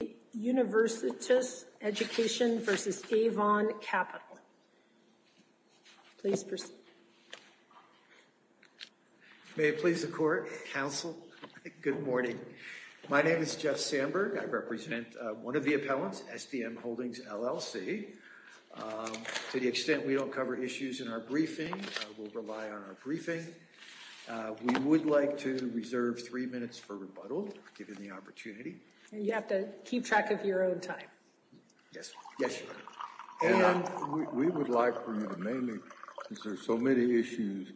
May it please the court, counsel, good morning. My name is Jeff Sandberg. I represent one of the appellants, SDM Holdings, LLC. To the extent we don't cover issues in our briefing, we'll rely on our briefing. We would like to reserve three minutes for rebuttal, given the opportunity. And you have to keep track of your own time. Yes, yes. And we would like for you to name it because there's so many issues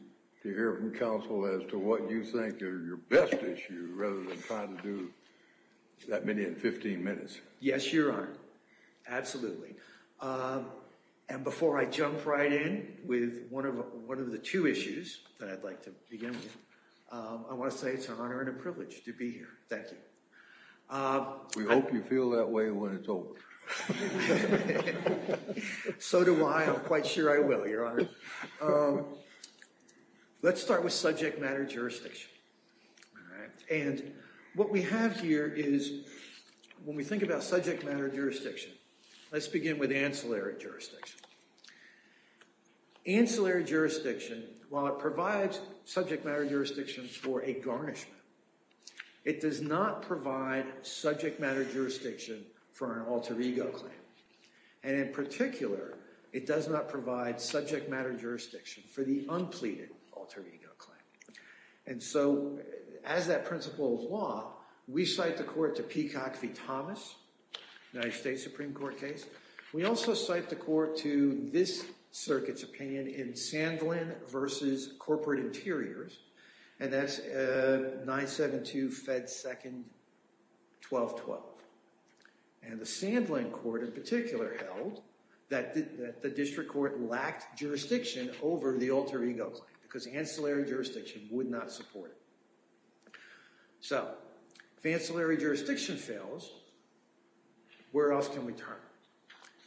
to hear from counsel as to what you think are your best issue rather than trying to do that many in 15 minutes. Yes, Your Honor. Absolutely. And before I jump right in with one of one of the two issues that I'd like to begin with, I want to say it's an honor and a privilege to be here. Thank you. We hope you feel that way when it's over. So do I. I'm quite sure I will, Your Honor. Let's start with subject matter jurisdiction. And what we have here is when we think about subject matter jurisdiction, let's begin with ancillary jurisdiction. Ancillary jurisdiction, while it provides subject matter jurisdictions for a garnishment, it does not provide subject matter jurisdiction for an alter ego claim. And in particular, it does not provide subject matter jurisdiction for the unpleaded alter ego claim. And so as that principle of law, we cite the court to Peacock v. Thomas, United States Supreme Court case. We also cite the corporate interiors, and that's 972 Fed 2nd 1212. And the Sandlin court in particular held that the district court lacked jurisdiction over the alter ego claim because ancillary jurisdiction would not support it. So if ancillary jurisdiction fails, where else can we turn?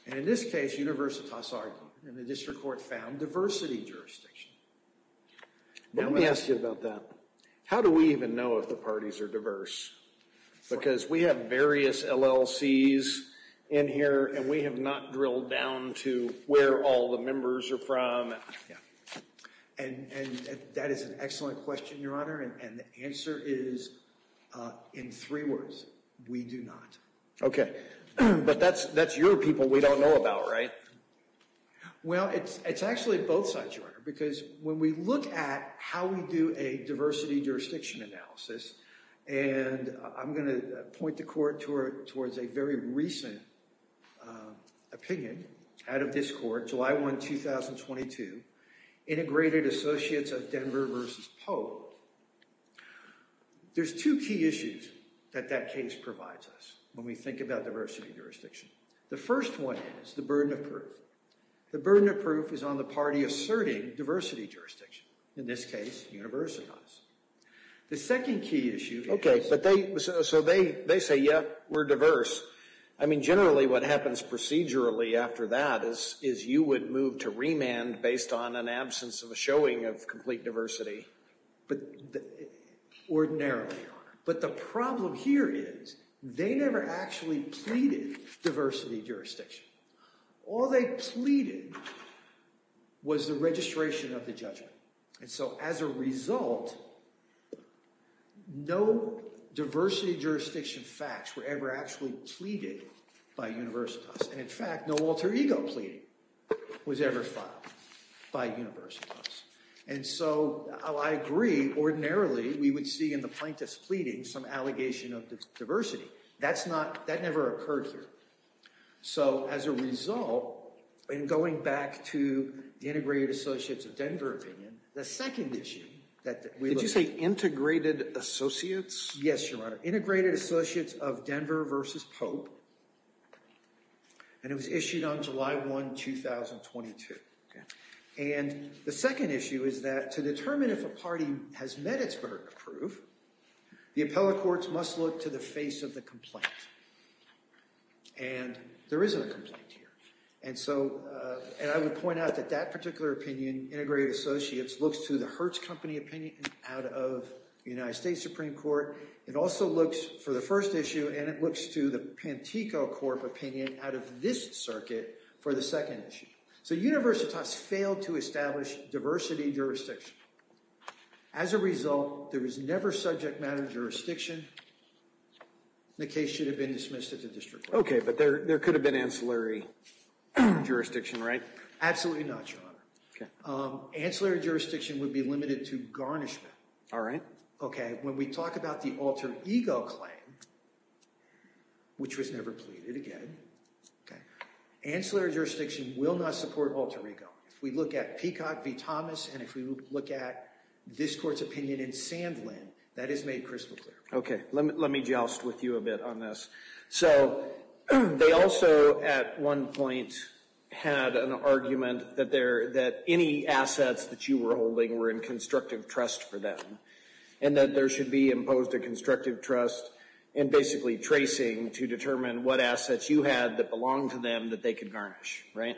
In this case, Universitas argued, and the district court found diversity jurisdiction. Now let me ask you about that. How do we even know if the parties are diverse? Because we have various LLCs in here, and we have not drilled down to where all the members are from. And that is an excellent question, Your Honor. And the answer is in three words, we do not. Okay. But that's your people we don't know about, right? Well, it's actually both sides, Your Honor. Because when we look at how we do a diversity jurisdiction analysis, and I'm going to point the court towards a very recent opinion out of this court, July 1, 2022, Integrated Associates of Denver v. Poe. There's two key issues that that case provides us when we think about diversity jurisdiction. The first one is the burden of proof. The burden of proof is on the party asserting diversity jurisdiction, in this case, Universitas. The second key issue... Okay. So they say, yeah, we're diverse. I mean, generally what happens procedurally after that is you would move to remand based on an absence of a showing of complete diversity. But ordinarily, Your Honor. But the problem here is they never actually pleaded diversity jurisdiction. All they pleaded was the registration of the judgment. And so as a result, no diversity jurisdiction facts were ever actually pleaded by Universitas. And in fact, no alter ego pleading was ever filed by Universitas. And so I agree. Ordinarily, we would see in the plaintiff's pleading some allegation of diversity. That never occurred here. So as a result, in going back to the Integrated Associates of Denver opinion, the second issue that we look at... Did you say Integrated Associates? Yes, Your Honor. Integrated Associates of Denver versus Pope. And it was issued on July 1, 2022. And the second issue is that to determine if a party has met its burden of proof, the appellate courts must look to the face of the complaint. And there isn't a complaint here. And I would point out that that particular opinion, Integrated Associates, looks to the Hertz Company opinion out of the United States Supreme Court. It also looks for the first issue, and it looks to the Pantico Corp opinion out of this circuit for the second issue. So Universitas failed to establish diversity jurisdiction. As a result, there was never subject matter jurisdiction. The case should have been dismissed at the district court. OK, but there could have been ancillary jurisdiction, right? Absolutely not, Your Honor. Ancillary jurisdiction would be limited to garnishment. All right. OK, when we talk about the alter ego claim, which was never pleaded again, ancillary jurisdiction will not support alter ego. If we look at Peacock v. Thomas, and if we look at this court's opinion in Sandlin, that is made crystal clear. OK, let me joust with you a bit on this. So they also, at one point, had an argument that any assets that you were holding were in constructive trust for them, and that there should be imposed a constructive trust and basically tracing to determine what assets you had that belonged to them that they could garnish, right?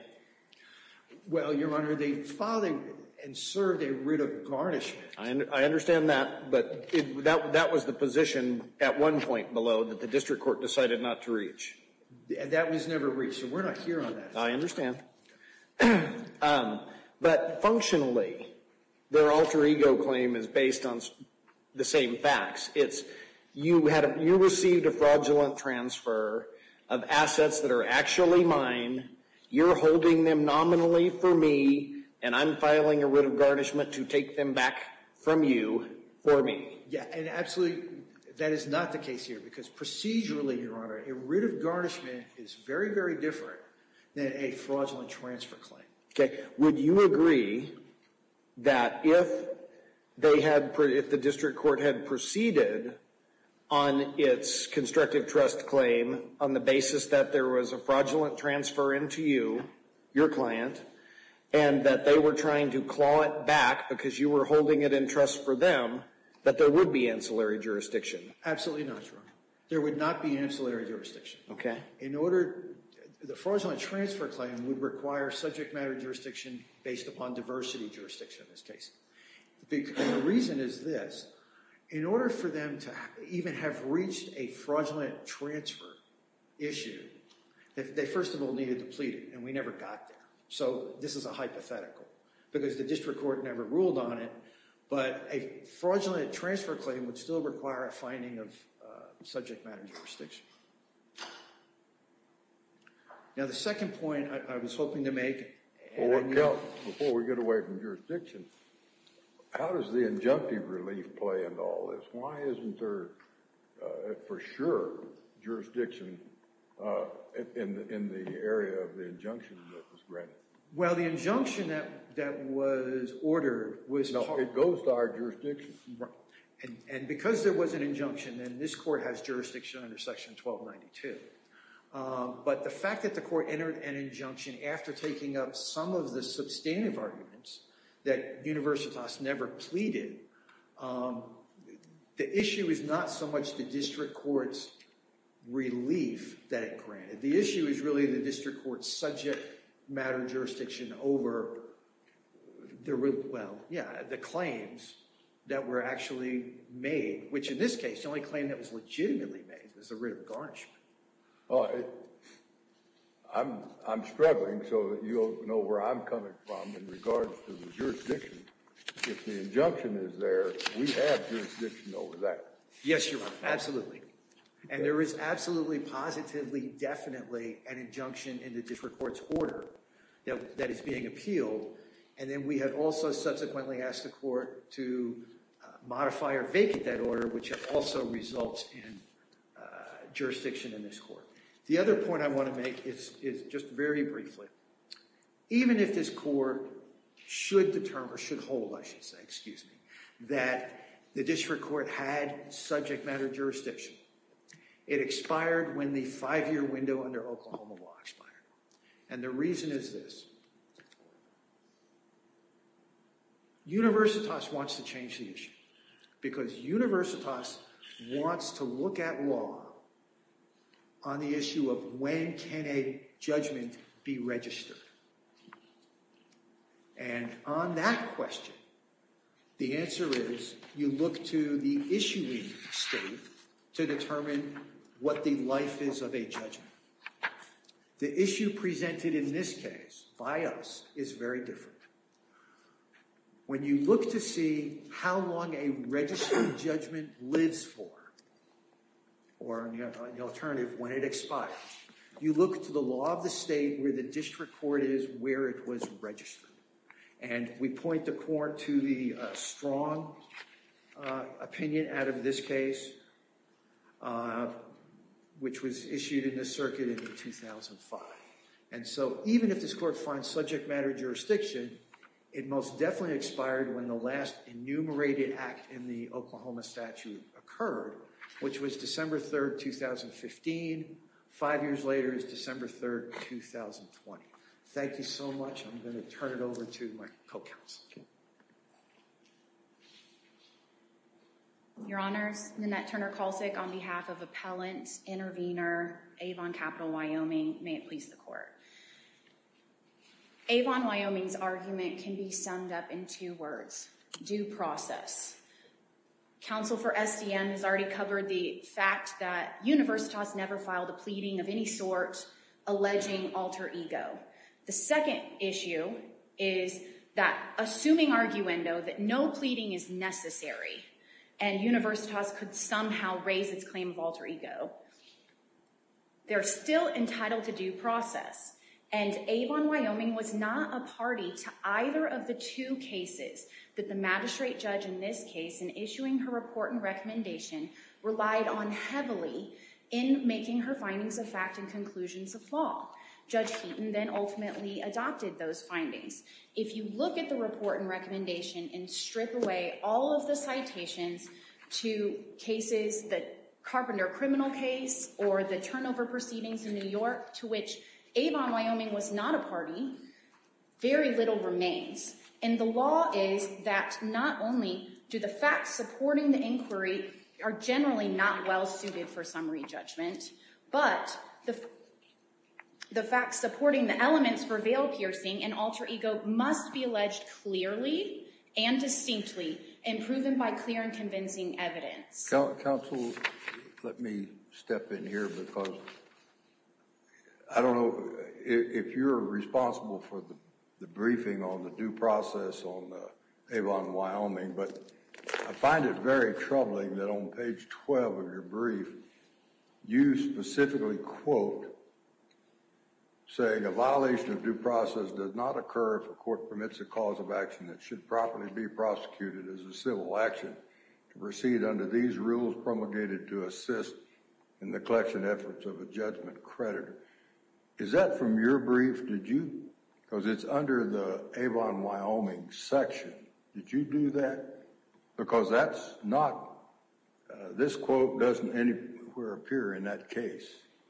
Well, Your Honor, they filed and served a writ of garnishment. I understand that, but that was the position at one point below that the district court decided not to reach. That was never reached, and we're not here on that. I understand. But functionally, their alter ego claim is based on the same facts. It's, you received a fraudulent transfer of assets that are actually mine, you're holding them nominally for me, and I'm filing a writ of garnishment to take them back from you for me. Yeah, and absolutely that is not the case here, because procedurally, Your Honor, a writ of garnishment is very, very different than a fraudulent transfer claim. OK, would you agree that if they had, if the district court had proceeded on its constructive trust claim on the basis that there was a fraudulent transfer into you, your client, and that they were trying to claw it back because you were holding it in trust for them, that there would be ancillary jurisdiction? OK. In order, the fraudulent transfer claim would require subject matter jurisdiction based upon diversity jurisdiction in this case. The reason is this. In order for them to even have reached a fraudulent transfer issue, they first of all needed to plead it, and we never got there. So this is a hypothetical, because the district court never ruled on it, but a fraudulent transfer claim would still require a finding of subject matter jurisdiction. Now, the second point I was hoping to make, before we get away from jurisdiction, how does the injunctive relief play into all this? Why isn't there, for sure, jurisdiction in the area of the injunction that was granted? Well, the injunction that was granted was subject matter jurisdiction. And because there was an injunction, and this court has jurisdiction under section 1292, but the fact that the court entered an injunction after taking up some of the substantive arguments that Universitas never pleaded, the issue is not so much the district court's relief that it granted. The issue is really the district court's subject matter jurisdiction over the claims that were actually made, which in this case, the only claim that was legitimately made was the writ of garnishment. I'm struggling, so you'll know where I'm coming from in regards to the jurisdiction. If the injunction is there, we have jurisdiction over that. Yes, Your Honor, absolutely. And there is absolutely, positively, definitely an injunction in the district court's order that is being appealed. And then we had also subsequently asked the court to modify or vacate that order, which also results in jurisdiction in this court. The other point I want to make is just very briefly. Even if this court should determine, or should hold, I should say, excuse me, that the district court had subject matter jurisdiction, it expired when the five-year window under Oklahoma law expired. And the reason is this. Universitas wants to change the issue because Universitas wants to look at law on the issue of when can a judgment be registered. And on that question, the answer is you look to the issuing state to determine what the life is of a judgment. The issue presented in this case by us is very different. When you look to see how long a registered judgment lives for, or the alternative, when it expires, you look to the law of the state where the district court is where it was registered. And we point the court to the strong opinion out of this case, which was issued in the circuit in 2005. And so even if this court finds subject matter jurisdiction, it most definitely expired when the last enumerated act in the Oklahoma statute occurred, which was December 3rd, 2015. Five years later is December 3rd, 2020. Thank you so much. I'm going to turn it over to my co-counsel. Your Honors, Nanette Turner-Kalsik on behalf of Appellant, Intervenor, Avon Capital, Wyoming. May it please the court. Avon, Wyoming's argument can be summed up in two words, due process. Council for SDM has covered the fact that Universitas never filed a pleading of any sort alleging alter ego. The second issue is that assuming arguendo, that no pleading is necessary and Universitas could somehow raise its claim of alter ego, they're still entitled to due process. And Avon, Wyoming was not a party to either of the two cases that the magistrate judge in this case in issuing her report and recommendation relied on heavily in making her findings of fact and conclusions of law. Judge Heaton then ultimately adopted those findings. If you look at the report and recommendation and strip away all of the citations to cases that Carpenter criminal case or the turnover proceedings in New York to which Avon, Wyoming was not a party, very little remains. And the law is that not only do the facts supporting the inquiry are generally not well suited for summary judgment, but the facts supporting the elements for veil piercing and alter ego must be alleged clearly and distinctly and proven by clear and convincing evidence. Council, let me step in here because I don't know if you're responsible for the briefing on the due process on Avon, Wyoming, but I find it very troubling that on page 12 of your brief you specifically quote saying a violation of due process does not occur if a court permits a cause of action that should properly be prosecuted as a civil action to proceed under these rules promulgated to assist in the collection efforts of a judgment creditor. Is that from your brief? Did you? Because it's under the Avon, Wyoming section. Did you do that? Because that's not this quote doesn't anywhere appear in that case.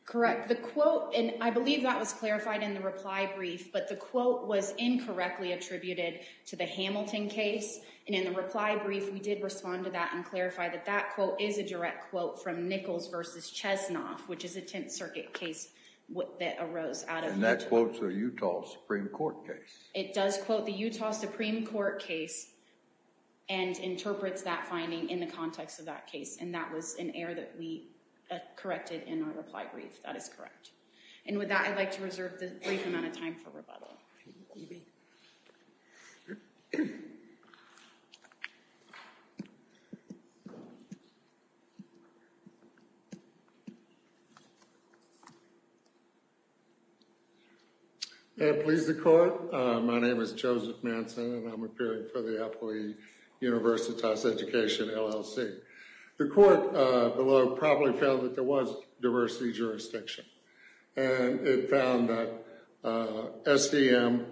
Correct. The quote and I believe that was clarified in the reply brief, but the quote was incorrectly attributed to the Hamilton case. And in the reply brief, we did respond to that and clarify that that quote is a direct quote from Nichols versus Chesnoff, which is a 10th Circuit case that arose out of that. And that quotes a Utah Supreme Court case. It does quote the Utah Supreme Court case and interprets that finding in the context of that case. And that was an error that we corrected in our reply brief. That is correct. And with that, I'd like to reserve the brief amount of time for rebuttal. May it please the court. My name is Joseph Manson and I'm appearing for the Employee Universitas Education, LLC. The court below probably found that there was a, SDM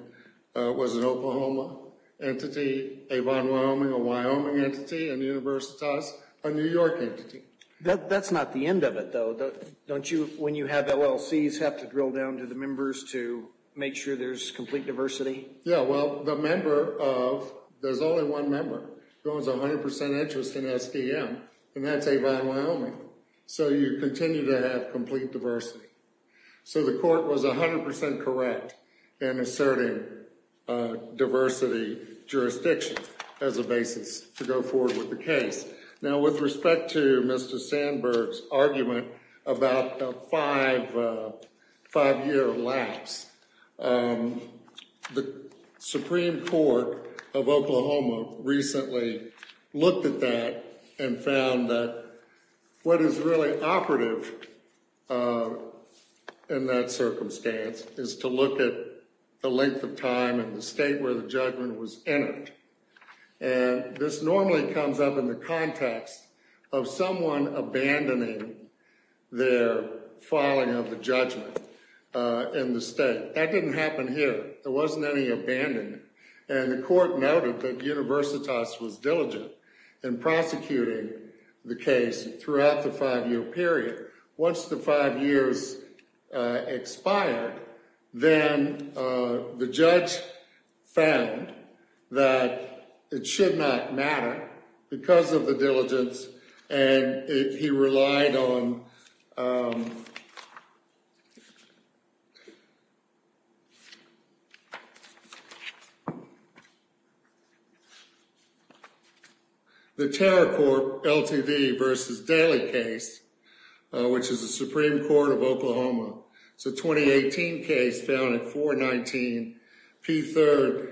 was an Oklahoma entity, Avon, Wyoming, a Wyoming entity, and Universitas, a New York entity. That's not the end of it, though. Don't you, when you have LLCs, have to drill down to the members to make sure there's complete diversity? Yeah, well, the member of, there's only one member who owns 100% interest in SDM, and that's Avon, Wyoming. So you continue to have diversity. So the court was 100% correct in asserting diversity jurisdiction as a basis to go forward with the case. Now, with respect to Mr. Sandberg's argument about the five-year lapse, the Supreme Court of Oklahoma recently looked at that and found that what is really operative in that circumstance is to look at the length of time in the state where the judgment was entered. And this normally comes up in the context of someone abandoning their filing of the judgment in the state. That didn't happen here. There wasn't any abandonment. And the court noted that Universitas was diligent in prosecuting the case throughout the five-year period. Once the five years expired, then the judge found that it should not matter because of the diligence, and he relied on the diligence. The TerraCorp LTD v. Daley case, which is the Supreme Court of Oklahoma, it's a 2018 case found at 419 P. 3rd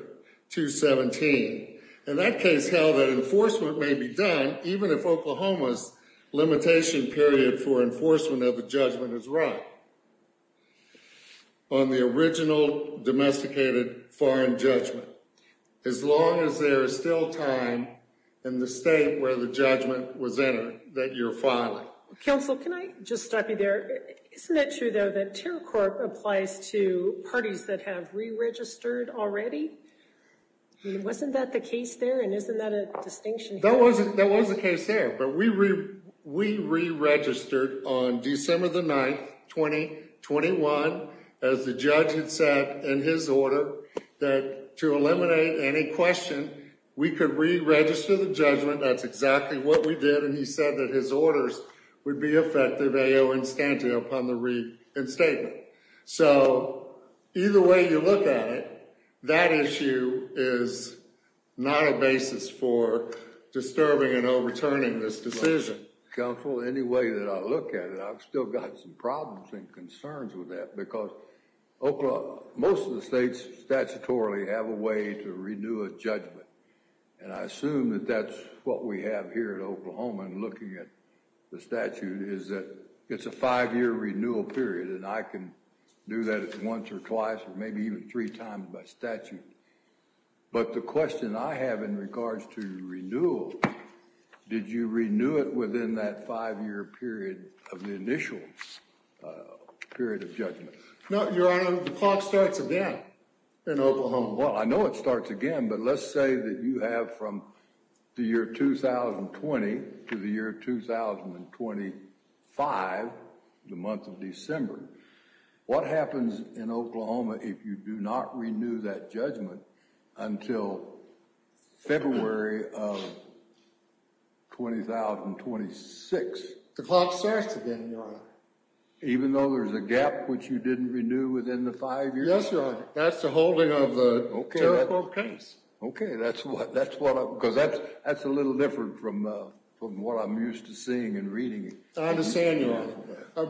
217. And that case held that enforcement may be done even if Oklahoma's limitation period for enforcement of the judgment is run on the original domesticated foreign judgment, as long as there is still time in the state where the judgment was entered that you're filing. Counsel, can I just stop you there? Isn't it true, though, that TerraCorp applies to parties that have re-registered already? I mean, wasn't that the case there? And isn't that a distinction? That wasn't the case there. But we re-registered on December the 9th, 2021, as the judge had said in his order, that to eliminate any question, we could re-register the judgment. That's exactly what we did. And he said that his orders would be effective instantly upon the reinstatement. So either way you look at it, that issue is not a basis for disturbing and overturning this decision. Counsel, any way that I look at it, I've still got some problems and concerns with that because most of the states statutorily have a way to renew a judgment. And I assume that that's what we have here in Oklahoma and looking at the statute is that it's a five-year renewal period. And I can do that once or twice or maybe even three times by statute. But the question I have in regards to renewal, did you renew it within that five-year period of the initial period of judgment? No, Your Honor. The clock starts again in Oklahoma. Well, I know it starts again, but let's say that you have from the year 2020 to the year 2025, the month of December. What happens in Oklahoma if you do not renew that judgment until February of 2026? The clock starts again, Your Honor. Even though there's a gap which you didn't renew within the five years? Yes, Your Honor. That's the holding of the terrible case. Okay. Because that's a little different from what I'm used to seeing and reading. I understand, Your Honor.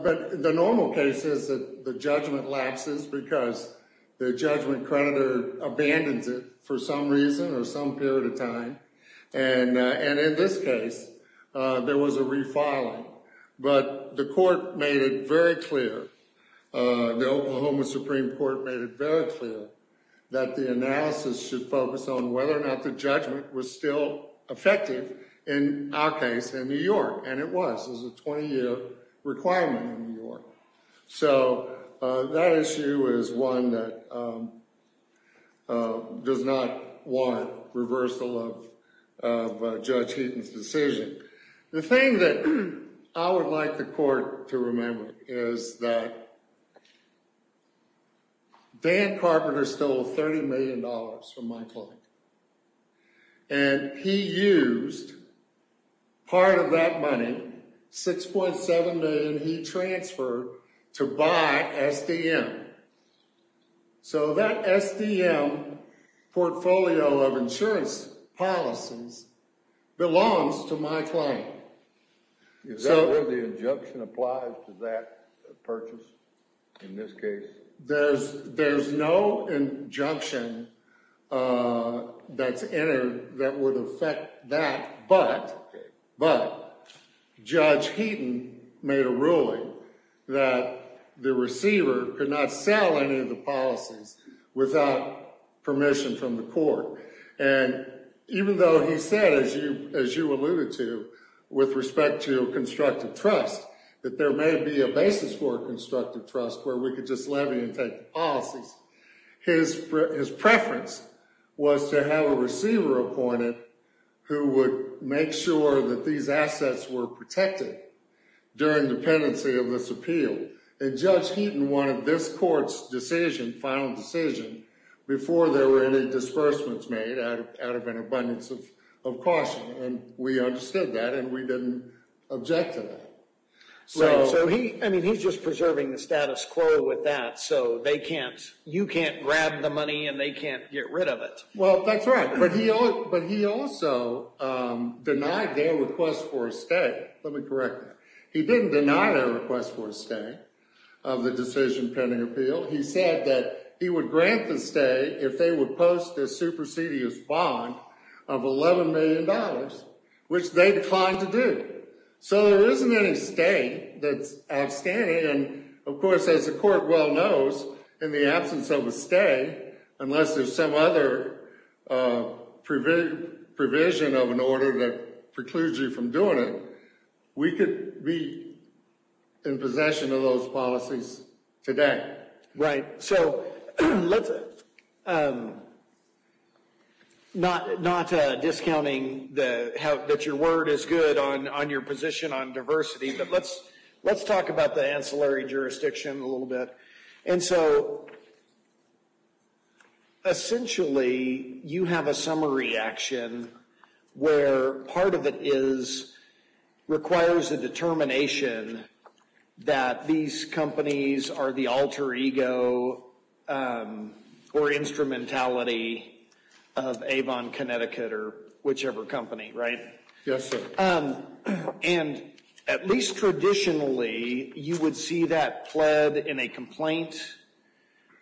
But the normal case is that the judgment lapses because the judgment creditor abandons it for some reason or some period of time. And in this case, there was a refiling. But the court made it very clear, the Oklahoma Supreme Court made it very clear that the analysis should focus on whether or not the judgment was still effective in our case in New York. And it was. It was a 20-year requirement in New York. So that issue is one that does not want reversal of Judge Heaton's decision. The thing that I would like the court to remember is that Dan Carpenter stole $30 million from my client. And he used part of that money, $6.7 million he transferred to buy SDM. So that SDM portfolio of insurance policies belongs to my client. Is that where the injunction applies to that purchase in this case? There's no injunction that's entered that would affect that. But Judge Heaton made a ruling that the receiver could not sell any of the policies without permission from the court. And even though he said, as you alluded to, with respect to constructive trust, that there may be a basis for constructive trust where we could just levy and take the policies, his preference was to have a receiver appointed who would make sure that these assets were protected during dependency of this appeal. And Judge Heaton wanted this court's decision, final decision, before there were any disbursements made out of an abundance of caution. And we understood that and we didn't object to that. So he, I mean, he's just preserving the status quo with that. So they can't, you can't grab the money and they can't get rid of it. Well, that's right. But he also denied their request for a stay. Let me correct that. He didn't deny their request for a stay of the decision pending appeal. He said that he would grant the stay if they would post a supersedious bond of $11 million, which they declined to do. So there isn't any stay that's outstanding. And of course, as the court well knows, in the absence of a stay, unless there's some other provision of an order that precludes you from doing it, we could be in possession of those policies today. Right. So let's, not discounting that your word is good on your position on diversity, but let's talk about the ancillary jurisdiction a little bit. And so essentially, you have a summary action where part of it is, requires a determination that these companies are the alter ego or instrumentality of Avon, Connecticut or whichever company, right? Yes, sir. And at least traditionally, you would see that pled in a complaint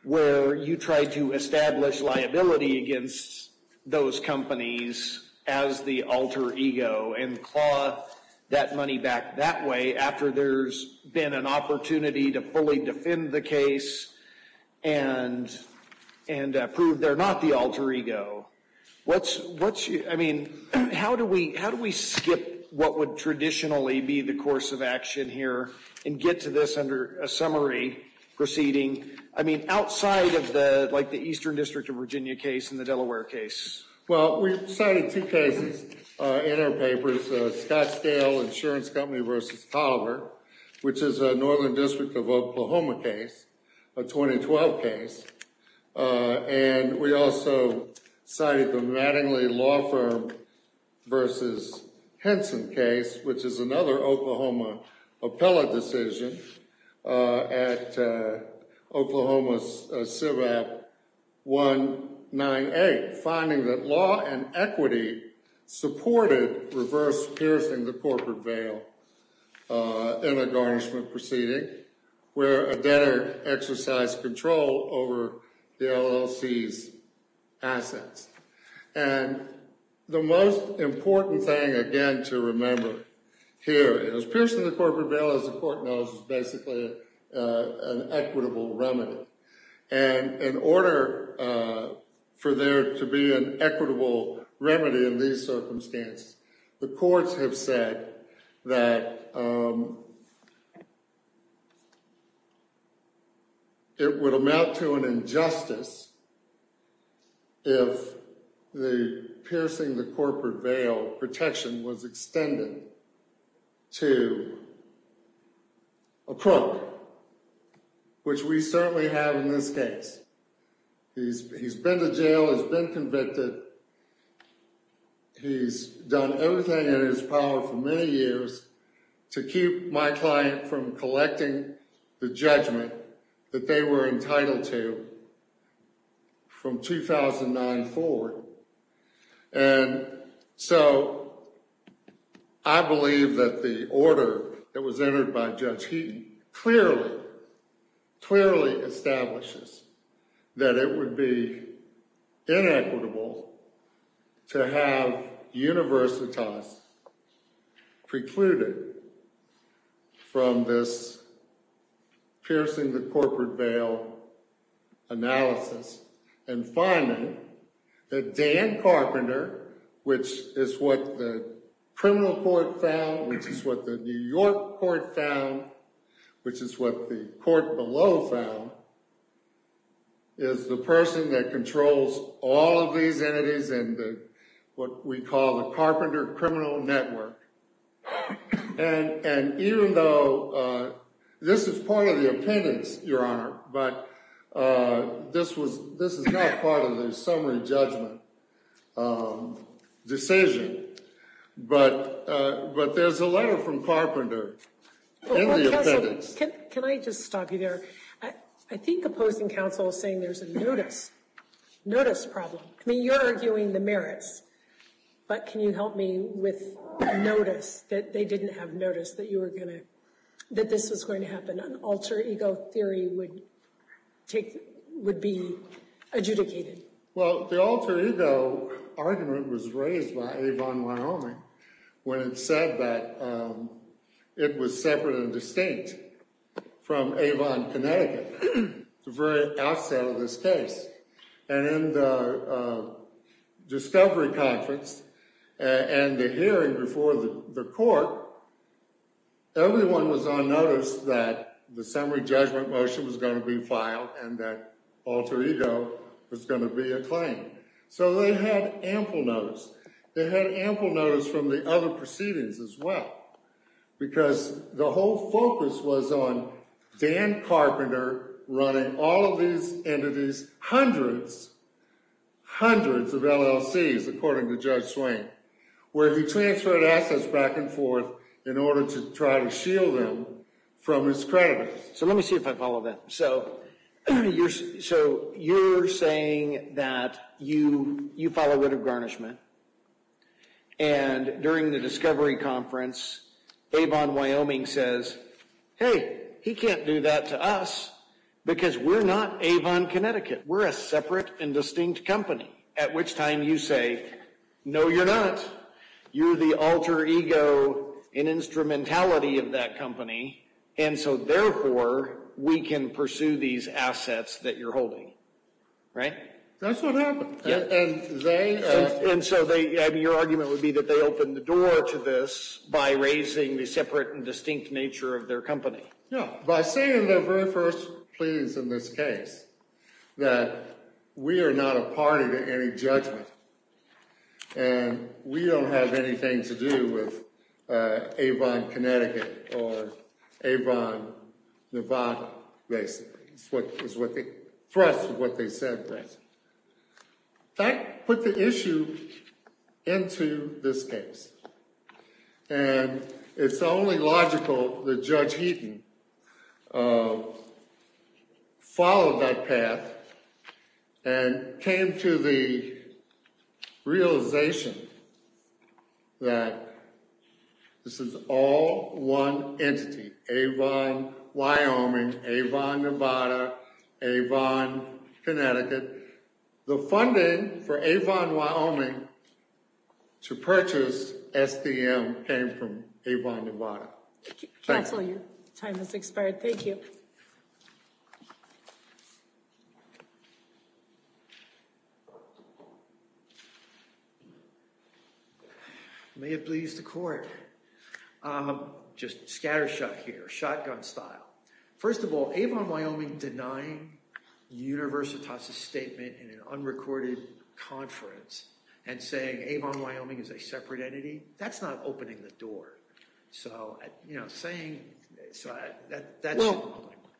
where you tried to establish liability against those companies as the alter ego and claw that money back that way after there's been an opportunity to fully defend the case and prove they're not the alter ego. I mean, how do we skip what would traditionally be the course of action here and get to this under a summary proceeding? I mean, outside of the Eastern District of Virginia case and the Delaware case. Well, we cited two cases in our papers, Scottsdale Insurance Company versus Colliver, which is a Northern District of Oklahoma case, a 2012 case. And we also cited the Mattingly Law Firm versus Henson case, which is another Oklahoma appellate decision at Oklahoma CIVAP 198, finding that law and equity supported reverse piercing the corporate veil in a garnishment proceeding where a debtor exercised control over the LLC's and the most important thing, again, to remember here is piercing the corporate veil, as the court knows, is basically an equitable remedy. And in order for there to be an equitable remedy in these circumstances, the courts have said that it would amount to an injustice if the piercing the corporate veil protection was extended to a crook, which we certainly have in this case. He's been to jail, has been convicted. He's done everything in his power for many years to keep my client from collecting the judgment that they were entitled to from 2009 forward. And so I believe that the order that was entered by establishes that it would be inequitable to have universitas precluded from this piercing the corporate veil analysis. And finally, that Dan Carpenter, which is what the criminal court found, which is what the New York court found, which is what the court below found, is the person that controls all of these entities and what we call the Carpenter criminal network. And even though this is part of the opinions, Your Honor, but this is not part of the summary judgment decision. But there's a letter from Carpenter. Can I just stop you there? I think opposing counsel is saying there's a notice problem. I mean, you're arguing the merits, but can you help me with notice that they didn't have notice that this was going to happen, an alter ego theory would be adjudicated? Well, the alter ego argument was raised by Avon Wyoming when it said that it was separate and distinct from Avon, Connecticut, the very outset of this case. And in the discovery conference and the hearing before the court, everyone was on notice that the summary judgment motion was going to be a claim. So they had ample notice. They had ample notice from the other proceedings as well, because the whole focus was on Dan Carpenter running all of these entities, hundreds, hundreds of LLCs, according to Judge Swain, where he transferred assets back and forth in order to try to shield them from his creditors. So let me see if I follow that. So you're saying you follow writ of garnishment, and during the discovery conference, Avon Wyoming says, hey, he can't do that to us because we're not Avon, Connecticut. We're a separate and distinct company. At which time you say, no, you're not. You're the alter ego in instrumentality of that That's what happened. And so your argument would be that they opened the door to this by raising the separate and distinct nature of their company. Yeah. By saying their very first pleas in this case, that we are not a party to any judgment, and we don't have anything to do with Avon, Connecticut or Avon, Nevada, basically. That's what they said. That put the issue into this case. And it's only logical that Judge Heaton followed that path and came to the realization that this is all one entity, Avon Wyoming, Avon, Nevada, Avon, Connecticut. The funding for Avon Wyoming to purchase STM came from Avon, Nevada. Counselor, your time has expired. Thank you. I may have pleased the court. Just scattershot here, shotgun style. First of all, Avon Wyoming denying Universitas' statement in an unrecorded conference and saying Avon Wyoming is a separate entity.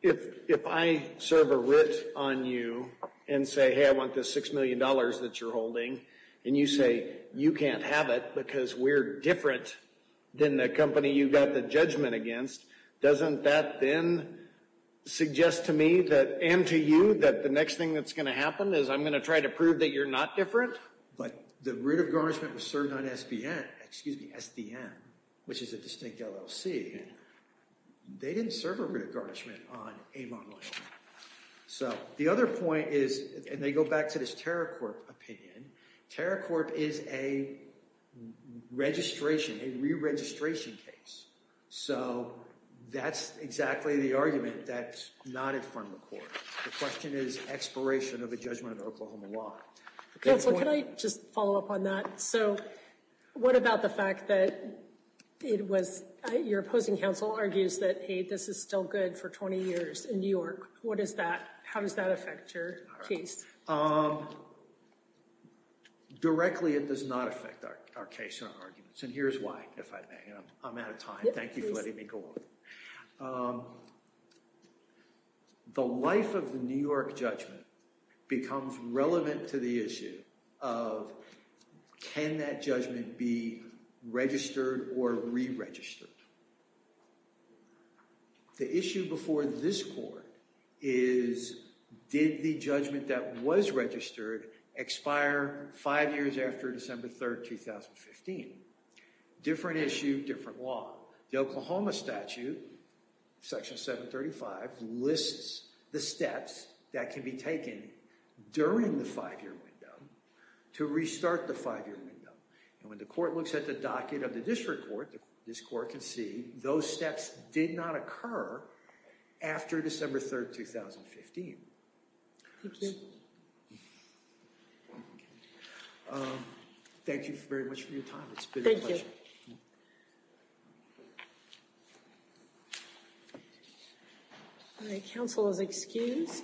If I serve a writ on you and say, hey, I want this $6 million that you're holding, and you say you can't have it because we're different than the company you got the judgment against, doesn't that then suggest to me and to you that the next thing that's going to happen is I'm going to try to prove that you're not different? But the writ of garnishment was served on STM, which is a distinct LLC. They didn't serve a writ of garnishment on Avon Wyoming. So the other point is, and they go back to this Terracorp opinion, Terracorp is a registration, a re-registration case. So that's exactly the argument that's not in front of the court. The question is expiration of a judgment of Oklahoma law. Counsel, can I just follow up on that? So what about the fact that it was, your opposing counsel argues that, hey, this is still good for 20 years in New York. What does that, how does that affect your case? Directly, it does not affect our case or our arguments. And here's why, if I may. I'm out of time. Thank you for letting me go on. The life of the New York judgment becomes relevant to the issue of, can that judgment be registered or re-registered? The issue before this court is, did the judgment that was registered expire five years after December 3rd, 2015? Different issue, different law. The Oklahoma statute, section 735, lists the steps that can be taken during the five-year window to restart the five-year window. And when the court looks at the docket of the district court, this court can see those steps did not occur after December 3rd, 2015. Thank you very much for your time. It's been a pleasure. Thank you.